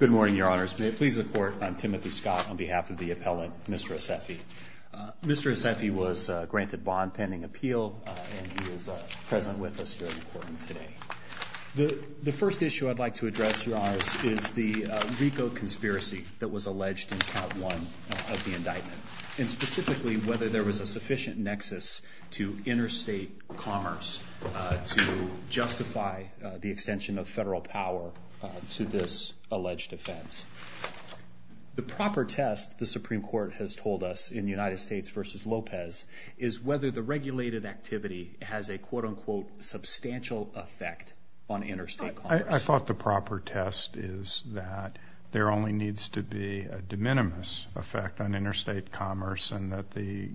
Good morning, Your Honors. May it please the Court, I'm Timothy Scott on behalf of the appellant, Mr. Asefi. Mr. Asefi was granted bond pending appeal and he is present with us here in the courtroom today. The first issue I'd like to address, Your Honors, is the RICO conspiracy that was alleged in Count 1 of the indictment. And specifically, whether there was a sufficient nexus to interstate commerce to justify the extension of federal power to this alleged offense. The proper test, the Supreme Court has told us in United States v. Lopez, is whether the regulated activity has a quote-unquote substantial effect on interstate commerce. I thought the proper test is that there only needs to be a de minimis effect on interstate commerce. And that the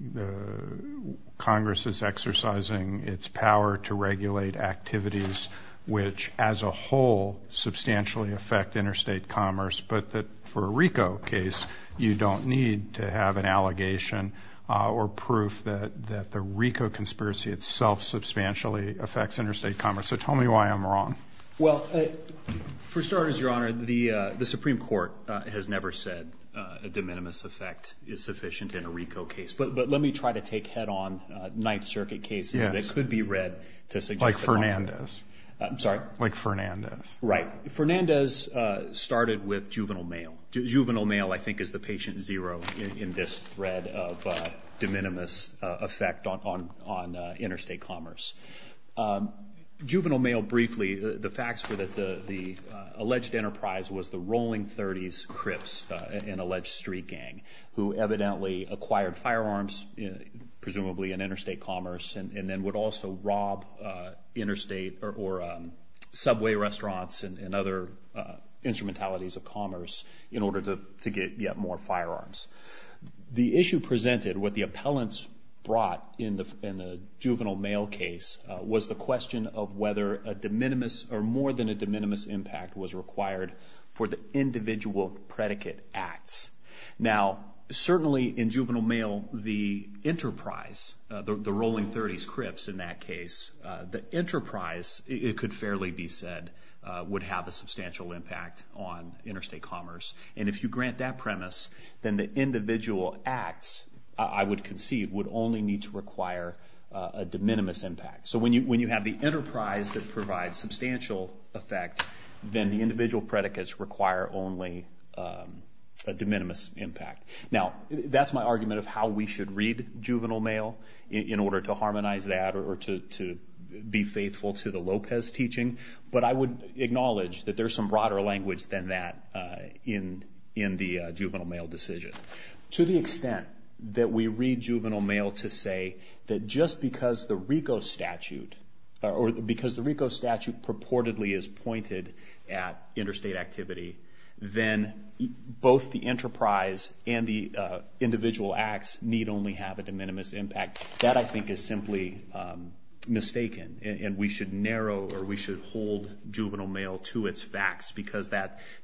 Congress is exercising its power to regulate activities which as a whole substantially affect interstate commerce. But that for a RICO case, you don't need to have an allegation or proof that the RICO conspiracy itself substantially affects interstate commerce. So tell me why I'm wrong. Well, for starters, Your Honor, the Supreme Court has never said a de minimis effect is sufficient in a RICO case. But let me try to take head-on Ninth Circuit cases that could be read to suggest the contrary. Like Fernandez. I'm sorry? Like Fernandez. Right. Fernandez started with juvenile mail. Juvenile mail, I think, is the patient zero in this thread of de minimis effect on interstate commerce. Juvenile mail, briefly, the facts were that the alleged enterprise was the Rolling 30s Crips, an alleged street gang, who evidently acquired firearms, presumably in interstate commerce, and then would also rob interstate or subway restaurants and other instrumentalities of commerce in order to get yet more firearms. The issue presented, what the appellants brought in the juvenile mail case, was the question of whether a de minimis or more than a de minimis impact was required for the individual predicate acts. Now, certainly in juvenile mail, the enterprise, the Rolling 30s Crips in that case, the enterprise, it could fairly be said, would have a substantial impact on interstate commerce. And if you grant that premise, then the individual acts, I would concede, would only need to require a de minimis impact. So when you have the enterprise that provides substantial effect, then the individual predicates require only a de minimis impact. Now, that's my argument of how we should read juvenile mail in order to harmonize that or to be faithful to the Lopez teaching. But I would acknowledge that there's some broader language than that in the juvenile mail decision. To the extent that we read juvenile mail to say that just because the RICO statute, or because the RICO statute purportedly is pointed at interstate activity, then both the enterprise and the individual acts need only have a de minimis impact. That, I think, is simply mistaken. And we should narrow or we should hold juvenile mail to its facts because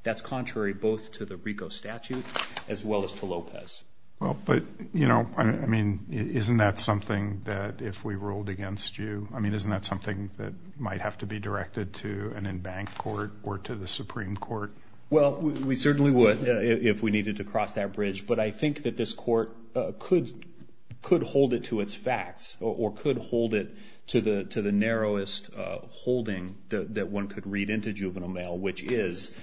that's contrary both to the RICO statute as well as to Lopez. Well, but, you know, I mean, isn't that something that if we ruled against you, I mean, isn't that something that might have to be directed to an embanked court or to the Supreme Court? Well, we certainly would if we needed to cross that bridge. But I think that this court could hold it to its facts or could hold it to the narrowest holding that one could read into juvenile mail, which is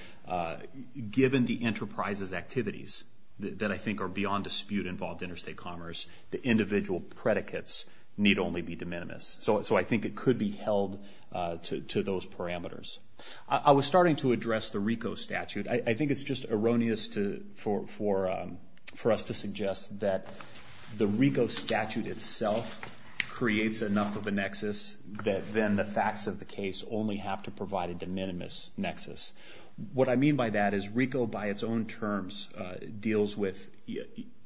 given the enterprise's activities that I think are beyond dispute involved interstate commerce, the individual predicates need only be de minimis. So I think it could be held to those parameters. I was starting to address the RICO statute. I think it's just erroneous for us to suggest that the RICO statute itself creates enough of a nexus that then the facts of the case only have to provide a de minimis nexus. What I mean by that is RICO by its own terms deals with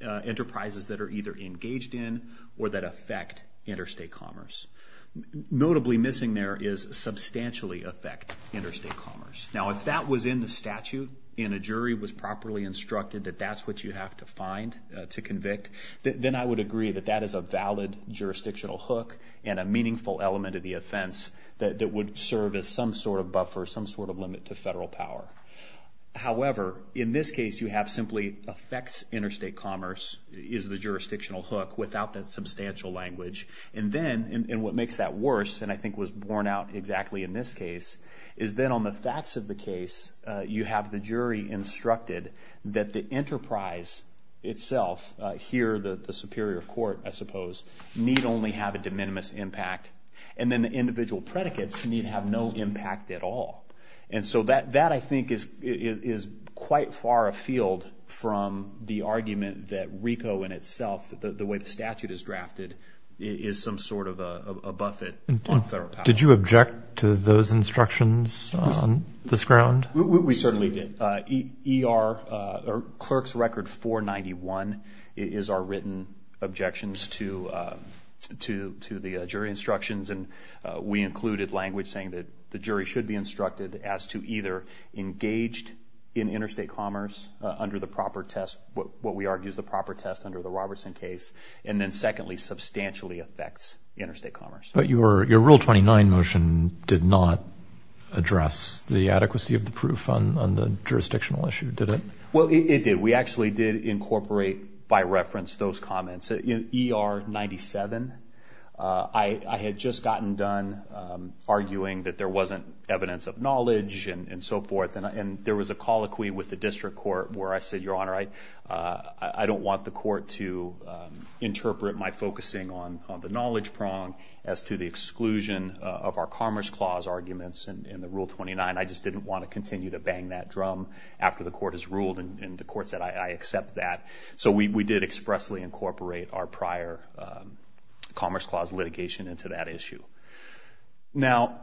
enterprises that are either engaged in or that affect interstate commerce. Notably missing there is substantially affect interstate commerce. Now, if that was in the statute and a jury was properly instructed that that's what you have to find to convict, then I would agree that that is a valid jurisdictional hook and a meaningful element of the offense that would serve as some sort of buffer, some sort of limit to federal power. However, in this case you have simply affects interstate commerce is the jurisdictional hook without that substantial language. And then what makes that worse, and I think was borne out exactly in this case, is then on the facts of the case you have the jury instructed that the enterprise itself, here the superior court I suppose, need only have a de minimis impact and then the individual predicates need have no impact at all. And so that I think is quite far afield from the argument that RICO in itself, the way the statute is drafted, is some sort of a buffet on federal power. Did you object to those instructions on this ground? We certainly did. Clerk's Record 491 is our written objections to the jury instructions, and we included language saying that the jury should be instructed as to either engaged in interstate commerce under the proper test, what we argue is the proper test under the Robertson case, and then secondly substantially affects interstate commerce. But your Rule 29 motion did not address the adequacy of the proof on the jurisdictional issue, did it? Well, it did. We actually did incorporate by reference those comments. In ER 97, I had just gotten done arguing that there wasn't evidence of knowledge and so forth, and there was a colloquy with the district court where I said, Your Honor, I don't want the court to interpret my focusing on the knowledge prong as to the exclusion of our Commerce Clause arguments in the Rule 29. I just didn't want to continue to bang that drum after the court has ruled and the court said I accept that. So we did expressly incorporate our prior Commerce Clause litigation into that issue. Now,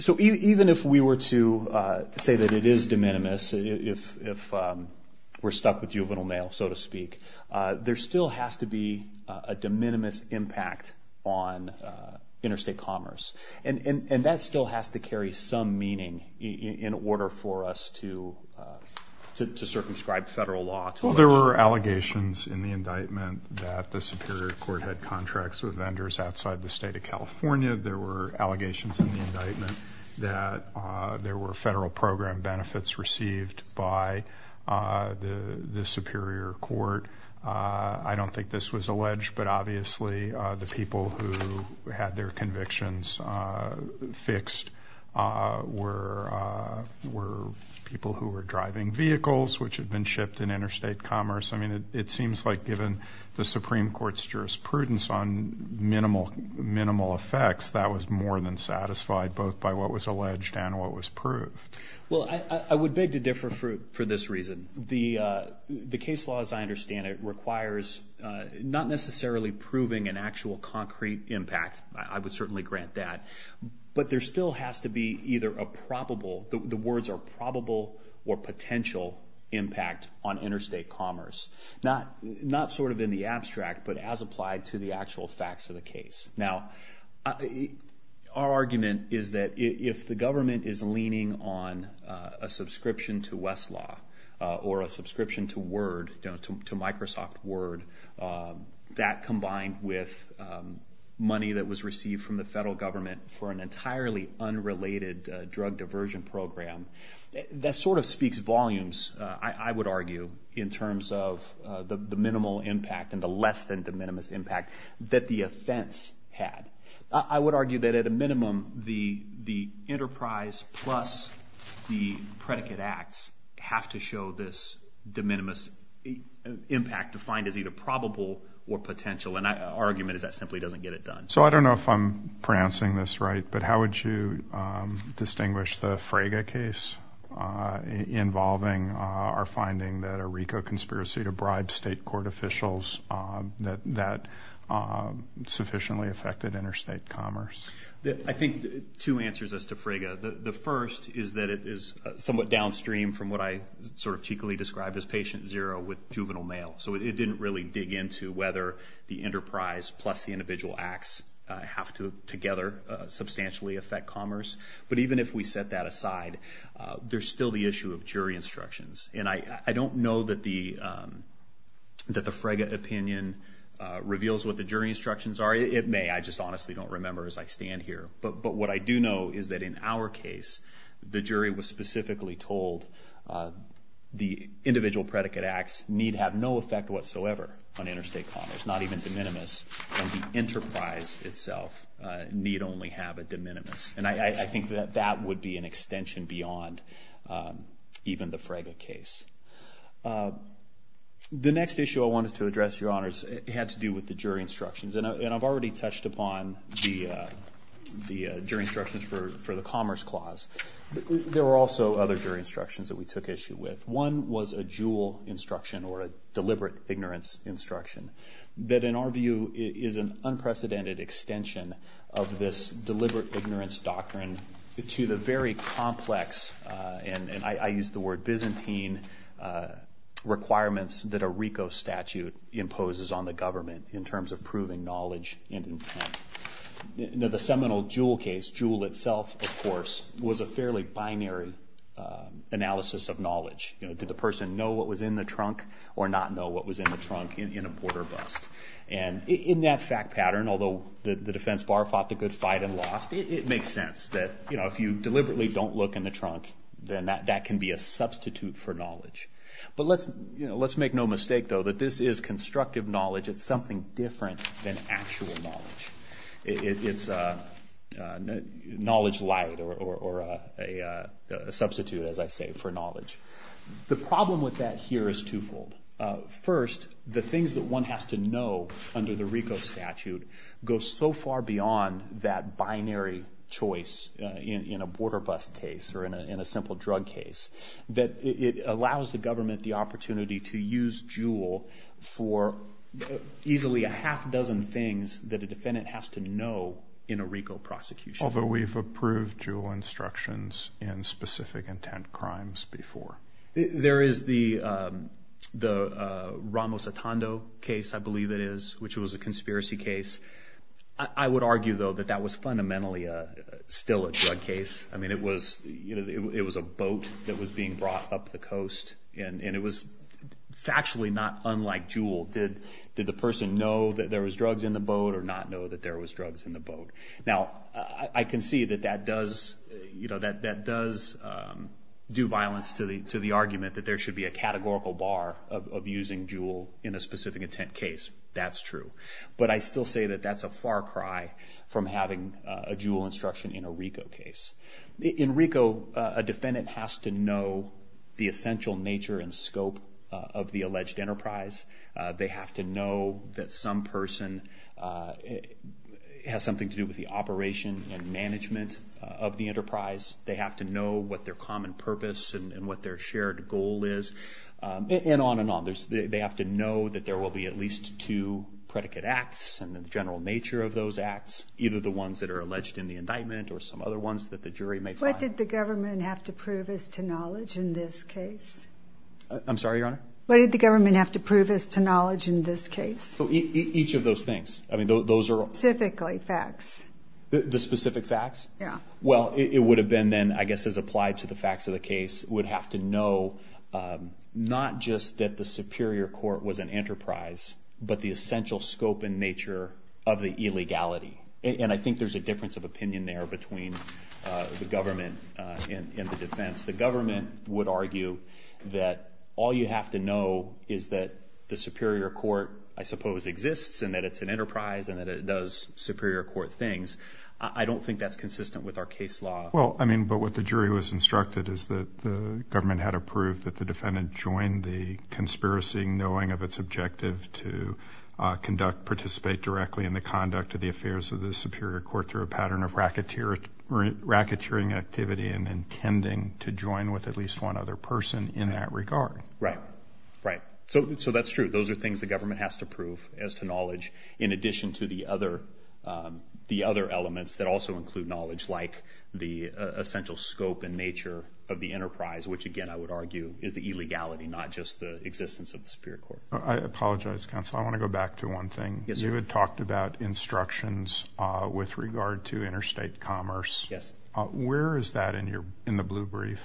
so even if we were to say that it is de minimis, if we're stuck with juvenile mail, so to speak, there still has to be a de minimis impact on interstate commerce, and that still has to carry some meaning in order for us to circumscribe federal law. Well, there were allegations in the indictment that the Superior Court had contracts with vendors outside the state of California. There were allegations in the indictment that there were federal program benefits received by the Superior Court. I don't think this was alleged, but obviously the people who had their convictions fixed were people who were driving vehicles which had been shipped in interstate commerce. I mean, it seems like given the Supreme Court's jurisprudence on minimal effects, that was more than satisfied both by what was alleged and what was proved. Well, I would beg to differ for this reason. The case law, as I understand it, requires not necessarily proving an actual concrete impact. I would certainly grant that. But there still has to be either a probable, the words are probable, or potential impact on interstate commerce. Not sort of in the abstract, but as applied to the actual facts of the case. Now, our argument is that if the government is leaning on a subscription to Westlaw, or a subscription to Microsoft Word, that combined with money that was received from the federal government for an entirely unrelated drug diversion program, that sort of speaks volumes, I would argue, in terms of the minimal impact and the less than de minimis impact that the offense had. I would argue that at a minimum, the enterprise plus the predicate acts have to show this de minimis impact defined as either probable or potential. And our argument is that simply doesn't get it done. So I don't know if I'm pronouncing this right, but how would you distinguish the Fraga case involving our finding that a RICO conspiracy to bribe state court officials that sufficiently affected interstate commerce? I think two answers as to Fraga. The first is that it is somewhat downstream from what I sort of cheekily described as patient zero with juvenile mail. So it didn't really dig into whether the enterprise plus the individual acts have to together substantially affect commerce. But even if we set that aside, there's still the issue of jury instructions. And I don't know that the Fraga opinion reveals what the jury instructions are. It may. I just honestly don't remember as I stand here. But what I do know is that in our case, the jury was specifically told the individual predicate acts need have no effect whatsoever on interstate commerce, not even de minimis, and the enterprise itself need only have a de minimis. And I think that that would be an extension beyond even the Fraga case. The next issue I wanted to address, Your Honors, had to do with the jury instructions. And I've already touched upon the jury instructions for the Commerce Clause. There were also other jury instructions that we took issue with. One was a jewel instruction or a deliberate ignorance instruction that, in our view, is an unprecedented extension of this deliberate ignorance doctrine to the very complex, and I use the word Byzantine, requirements that a RICO statute imposes on the government in terms of proving knowledge. The seminal jewel case, jewel itself, of course, was a fairly binary analysis of knowledge. Did the person know what was in the trunk or not know what was in the trunk in a border bust? And in that fact pattern, although the defense bar fought the good fight and lost, it makes sense that if you deliberately don't look in the trunk, then that can be a substitute for knowledge. But let's make no mistake, though, that this is constructive knowledge. It's something different than actual knowledge. It's knowledge light or a substitute, as I say, for knowledge. The problem with that here is twofold. First, the things that one has to know under the RICO statute go so far beyond that binary choice in a border bust case or in a simple drug case that it allows the government the opportunity to use jewel for easily a half dozen things that a defendant has to know in a RICO prosecution. Although we've approved jewel instructions in specific intent crimes before. There is the Ramos Atando case, I believe it is, which was a conspiracy case. I would argue, though, that that was fundamentally still a drug case. I mean, it was a boat that was being brought up the coast, and it was factually not unlike jewel. Did the person know that there was drugs in the boat or not know that there was drugs in the boat? Now, I can see that that does do violence to the argument that there should be a categorical bar of using jewel in a specific intent case. That's true. But I still say that that's a far cry from having a jewel instruction in a RICO case. In RICO, a defendant has to know the essential nature and scope of the alleged enterprise. They have to know that some person has something to do with the operation and management of the enterprise. They have to know what their common purpose and what their shared goal is, and on and on. They have to know that there will be at least two predicate acts and the general nature of those acts, either the ones that are alleged in the indictment or some other ones that the jury may find. What did the government have to prove as to knowledge in this case? I'm sorry, Your Honor? What did the government have to prove as to knowledge in this case? Each of those things. Specifically facts. The specific facts? Yeah. Well, it would have been then, I guess, as applied to the facts of the case, would have to know not just that the superior court was an enterprise, but the essential scope and nature of the illegality. And I think there's a difference of opinion there between the government and the defense. The government would argue that all you have to know is that the superior court, I suppose, exists, and that it's an enterprise and that it does superior court things. I don't think that's consistent with our case law. Well, I mean, but what the jury was instructed is that the government had to prove that the defendant joined the conspiracy, knowing of its objective to conduct, participate directly in the conduct of the affairs of the superior court through a pattern of racketeering activity and intending to join with at least one other person in that regard. Right. Right. So that's true. Those are things the government has to prove as to knowledge, in addition to the other elements that also include knowledge like the essential scope and nature of the enterprise, which, again, I would argue is the illegality, not just the existence of the superior court. I apologize, counsel. I want to go back to one thing. Yes, sir. You had talked about instructions with regard to interstate commerce. Yes. Where is that in the blue brief?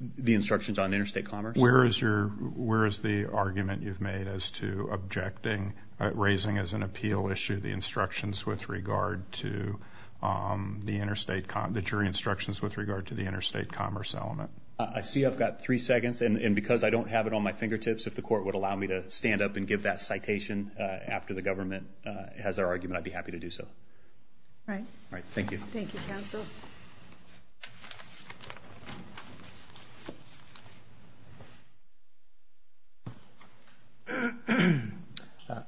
The instructions on interstate commerce? Where is the argument you've made as to objecting, raising as an appeal issue, the instructions with regard to the interstate, the jury instructions with regard to the interstate commerce element? I see I've got three seconds, and because I don't have it on my fingertips, if the court would allow me to stand up and give that citation after the government has their argument, I'd be happy to do so. All right. All right. Thank you. Thank you, counsel.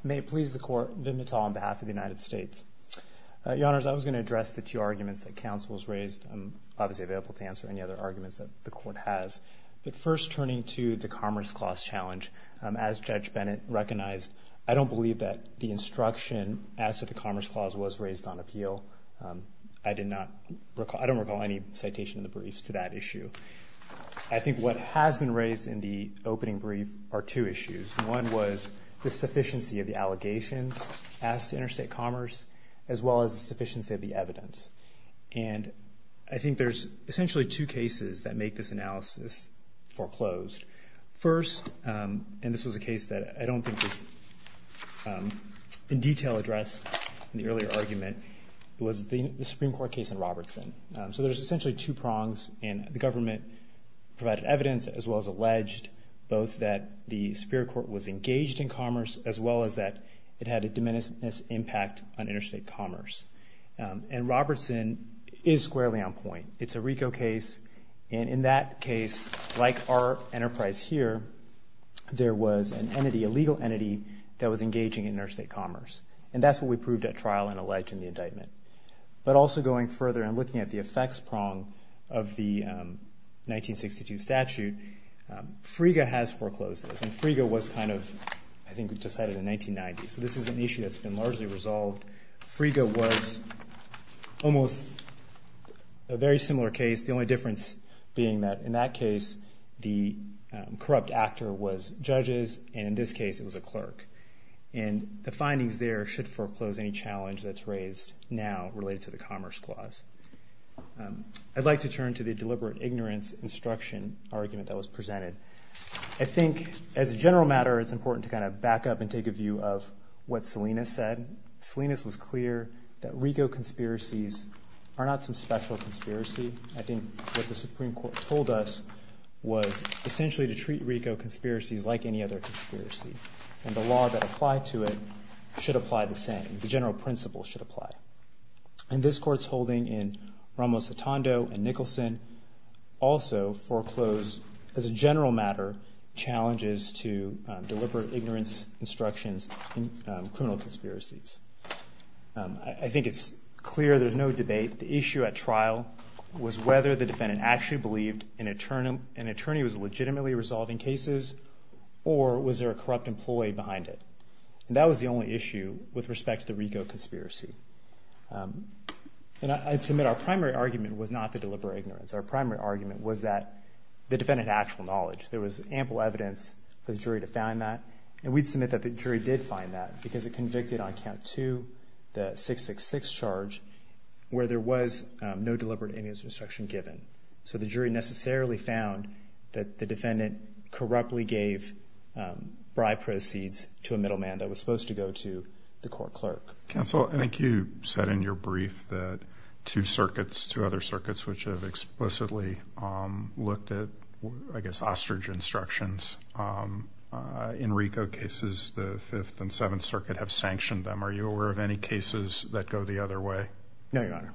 May it please the court, Vip Natal on behalf of the United States. Your Honors, I was going to address the two arguments that counsel has raised. I'm obviously available to answer any other arguments that the court has. But first, turning to the Commerce Clause challenge, as Judge Bennett recognized, I don't believe that the instruction as to the Commerce Clause was raised on appeal. I don't recall any citation in the briefs to that issue. I think what has been raised in the opening brief are two issues. One was the sufficiency of the allegations as to interstate commerce, as well as the sufficiency of the evidence. And I think there's essentially two cases that make this analysis foreclosed. First, and this was a case that I don't think was in detail addressed in the earlier argument, was the Supreme Court case in Robertson. So there's essentially two prongs, and the government provided evidence, as well as alleged, both that the Superior Court was engaged in commerce, as well as that it had a diminished impact on interstate commerce. And Robertson is squarely on point. It's a RICO case, and in that case, like our enterprise here, there was an entity, a legal entity that was engaging in interstate commerce. And that's what we proved at trial and alleged in the indictment. But also going further and looking at the effects prong of the 1962 statute, Friega has foreclosed this, and Friega was kind of, I think we decided in 1990. So this is an issue that's been largely resolved. Friega was almost a very similar case. The only difference being that in that case, the corrupt actor was judges, and in this case, it was a clerk. And the findings there should foreclose any challenge that's raised now related to the Commerce Clause. I'd like to turn to the deliberate ignorance instruction argument that was presented. I think as a general matter, it's important to kind of back up and take a view of what Selina said. Selina's was clear that RICO conspiracies are not some special conspiracy. I think what the Supreme Court told us was essentially to treat RICO conspiracies like any other conspiracy, and the law that applied to it should apply the same. The general principle should apply. And this Court's holding in Ramos-Sotondo and Nicholson also foreclosed, as a general matter, challenges to deliberate ignorance instructions in criminal conspiracies. I think it's clear there's no debate. The issue at trial was whether the defendant actually believed an attorney was legitimately resolving cases or was there a corrupt employee behind it. And that was the only issue with respect to the RICO conspiracy. And I'd submit our primary argument was not the deliberate ignorance. Our primary argument was that the defendant had actual knowledge. There was ample evidence for the jury to find that. And we'd submit that the jury did find that because it convicted on count two the 666 charge where there was no deliberate ignorance instruction given. So the jury necessarily found that the defendant corruptly gave bribe proceeds to a middleman that was supposed to go to the court clerk. Counsel, I think you said in your brief that two circuits, two other circuits, which have explicitly looked at, I guess, ostrich instructions in RICO cases, the Fifth and Seventh Circuit, have sanctioned them. Are you aware of any cases that go the other way? No, Your Honor.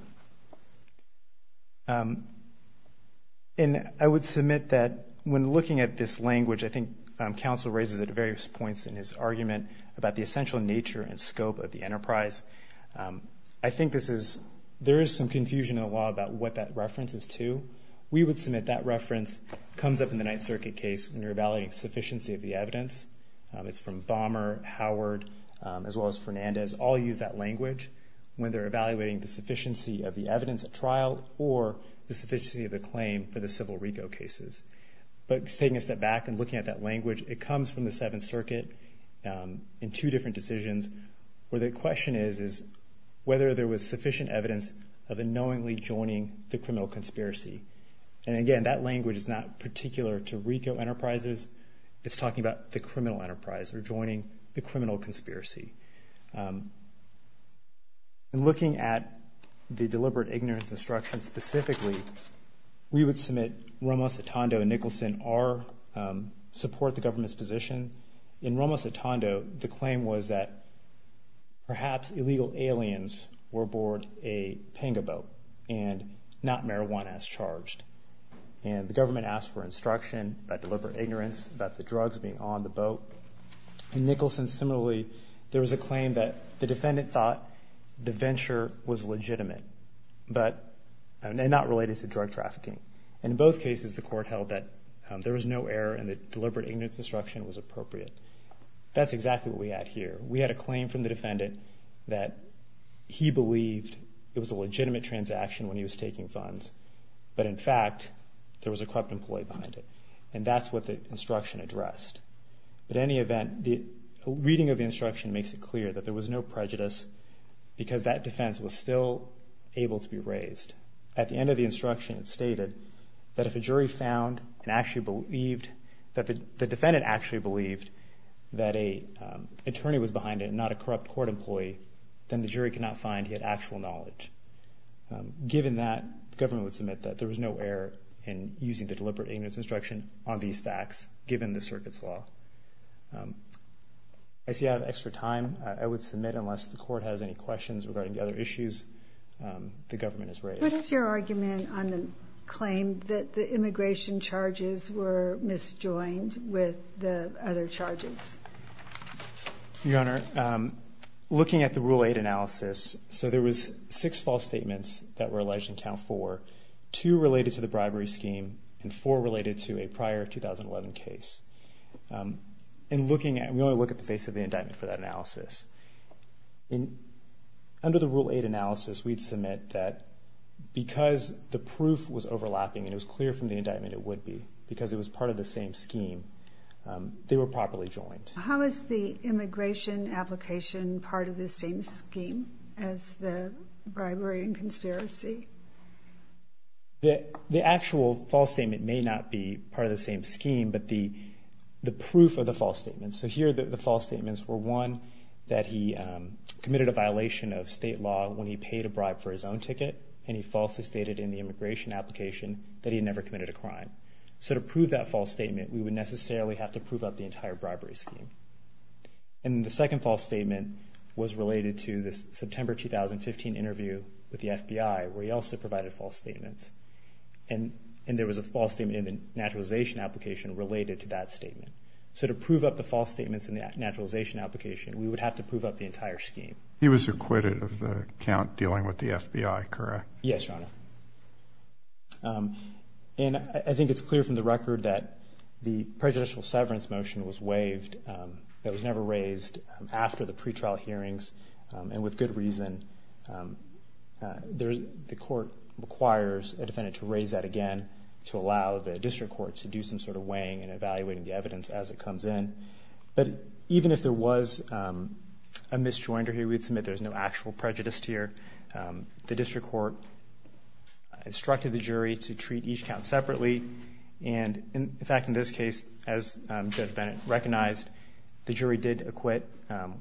And I would submit that when looking at this language, I think counsel raises at various points in his argument about the essential nature and scope of the enterprise. I think there is some confusion in the law about what that reference is to. We would submit that reference comes up in the Ninth Circuit case when you're evaluating sufficiency of the evidence. It's from Bommer, Howard, as well as Fernandez, all use that language when they're evaluating the sufficiency of the evidence at trial or the sufficiency of the claim for the civil RICO cases. But taking a step back and looking at that language, it comes from the Seventh Circuit in two different decisions where the question is whether there was sufficient evidence of unknowingly joining the criminal conspiracy. And, again, that language is not particular to RICO enterprises. It's talking about the criminal enterprise or joining the criminal conspiracy. In looking at the deliberate ignorance instruction specifically, we would submit Ramos-Otondo and Nicholson support the government's position. In Ramos-Otondo, the claim was that perhaps illegal aliens were aboard a panga boat and not marijuana as charged. And the government asked for instruction about deliberate ignorance, about the drugs being on the boat. In Nicholson, similarly, there was a claim that the defendant thought the venture was legitimate and not related to drug trafficking. In both cases, the court held that there was no error and that deliberate ignorance instruction was appropriate. That's exactly what we had here. We had a claim from the defendant that he believed it was a legitimate transaction when he was taking funds, but, in fact, there was a corrupt employee behind it. And that's what the instruction addressed. In any event, the reading of the instruction makes it clear that there was no prejudice because that defense was still able to be raised. At the end of the instruction, it stated that if a jury found and actually believed that the defendant actually believed that an attorney was behind it and not a corrupt court employee, then the jury could not find he had actual knowledge. Given that, the government would submit that there was no error in using the deliberate ignorance instruction on these facts, given the circuit's law. I see I have extra time. I would submit unless the court has any questions regarding the other issues, the government is raised. What is your argument on the claim that the immigration charges were misjoined with the other charges? Your Honor, looking at the Rule 8 analysis, so there was six false statements that were alleged in Count 4, two related to the bribery scheme, and four related to a prior 2011 case. We only look at the face of the indictment for that analysis. Under the Rule 8 analysis, we'd submit that because the proof was overlapping and it was clear from the indictment it would be, because it was part of the same scheme, they were properly joined. How is the immigration application part of the same scheme as the bribery and conspiracy? The actual false statement may not be part of the same scheme, but the proof of the false statement, so here the false statements were, one, that he committed a violation of state law when he paid a bribe for his own ticket, and he falsely stated in the immigration application that he had never committed a crime. So to prove that false statement, we would necessarily have to prove up the entire bribery scheme. The second false statement was related to the September 2015 interview with the FBI, where he also provided false statements. And there was a false statement in the naturalization application related to that statement. So to prove up the false statements in the naturalization application, we would have to prove up the entire scheme. He was acquitted of the count dealing with the FBI, correct? Yes, Your Honor. And I think it's clear from the record that the prejudicial severance motion was waived. It was never raised after the pretrial hearings, and with good reason. The court requires a defendant to raise that again to allow the district court to do some sort of weighing and evaluating the evidence as it comes in. But even if there was a misjoinder here, we would submit there's no actual prejudice here. The district court instructed the jury to treat each count separately, and, in fact, in this case, as Judge Bennett recognized, the jury did acquit,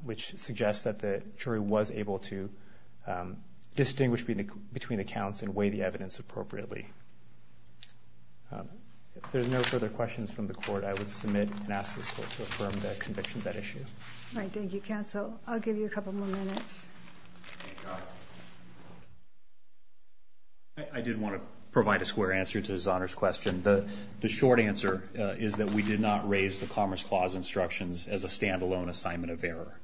which suggests that the jury was able to distinguish between the counts and weigh the evidence appropriately. If there's no further questions from the court, I would submit and ask the court to affirm the conviction of that issue. All right. Thank you, counsel. I'll give you a couple more minutes. I did want to provide a square answer to Zahner's question. The short answer is that we did not raise the Commerce Clause instructions as a stand-alone assignment of error.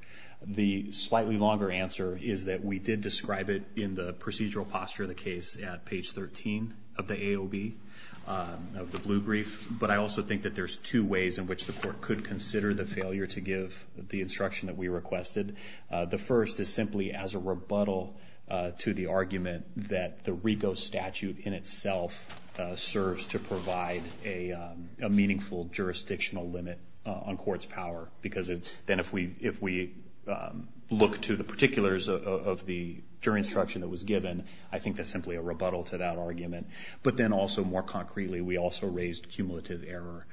The slightly longer answer is that we did describe it in the procedural posture of the case at page 13 of the AOB, of the blue brief. But I also think that there's two ways in which the court could consider the failure to give the instruction that we requested. The first is simply as a rebuttal to the argument that the RICO statute in itself serves to provide a meaningful jurisdictional limit on court's power, because then if we look to the particulars of the jury instruction that was given, I think that's simply a rebuttal to that argument. But then also, more concretely, we also raised cumulative error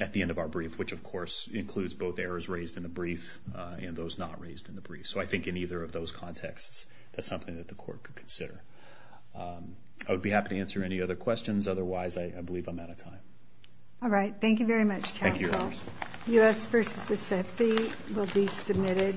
at the end of our brief, which, of course, includes both errors raised in the brief and those not raised in the brief. So I think in either of those contexts, that's something that the court could consider. I would be happy to answer any other questions. Otherwise, I believe I'm out of time. All right. Thank you very much, counsel. Thank you, Your Honors. U.S. v. Mississippi will be submitted.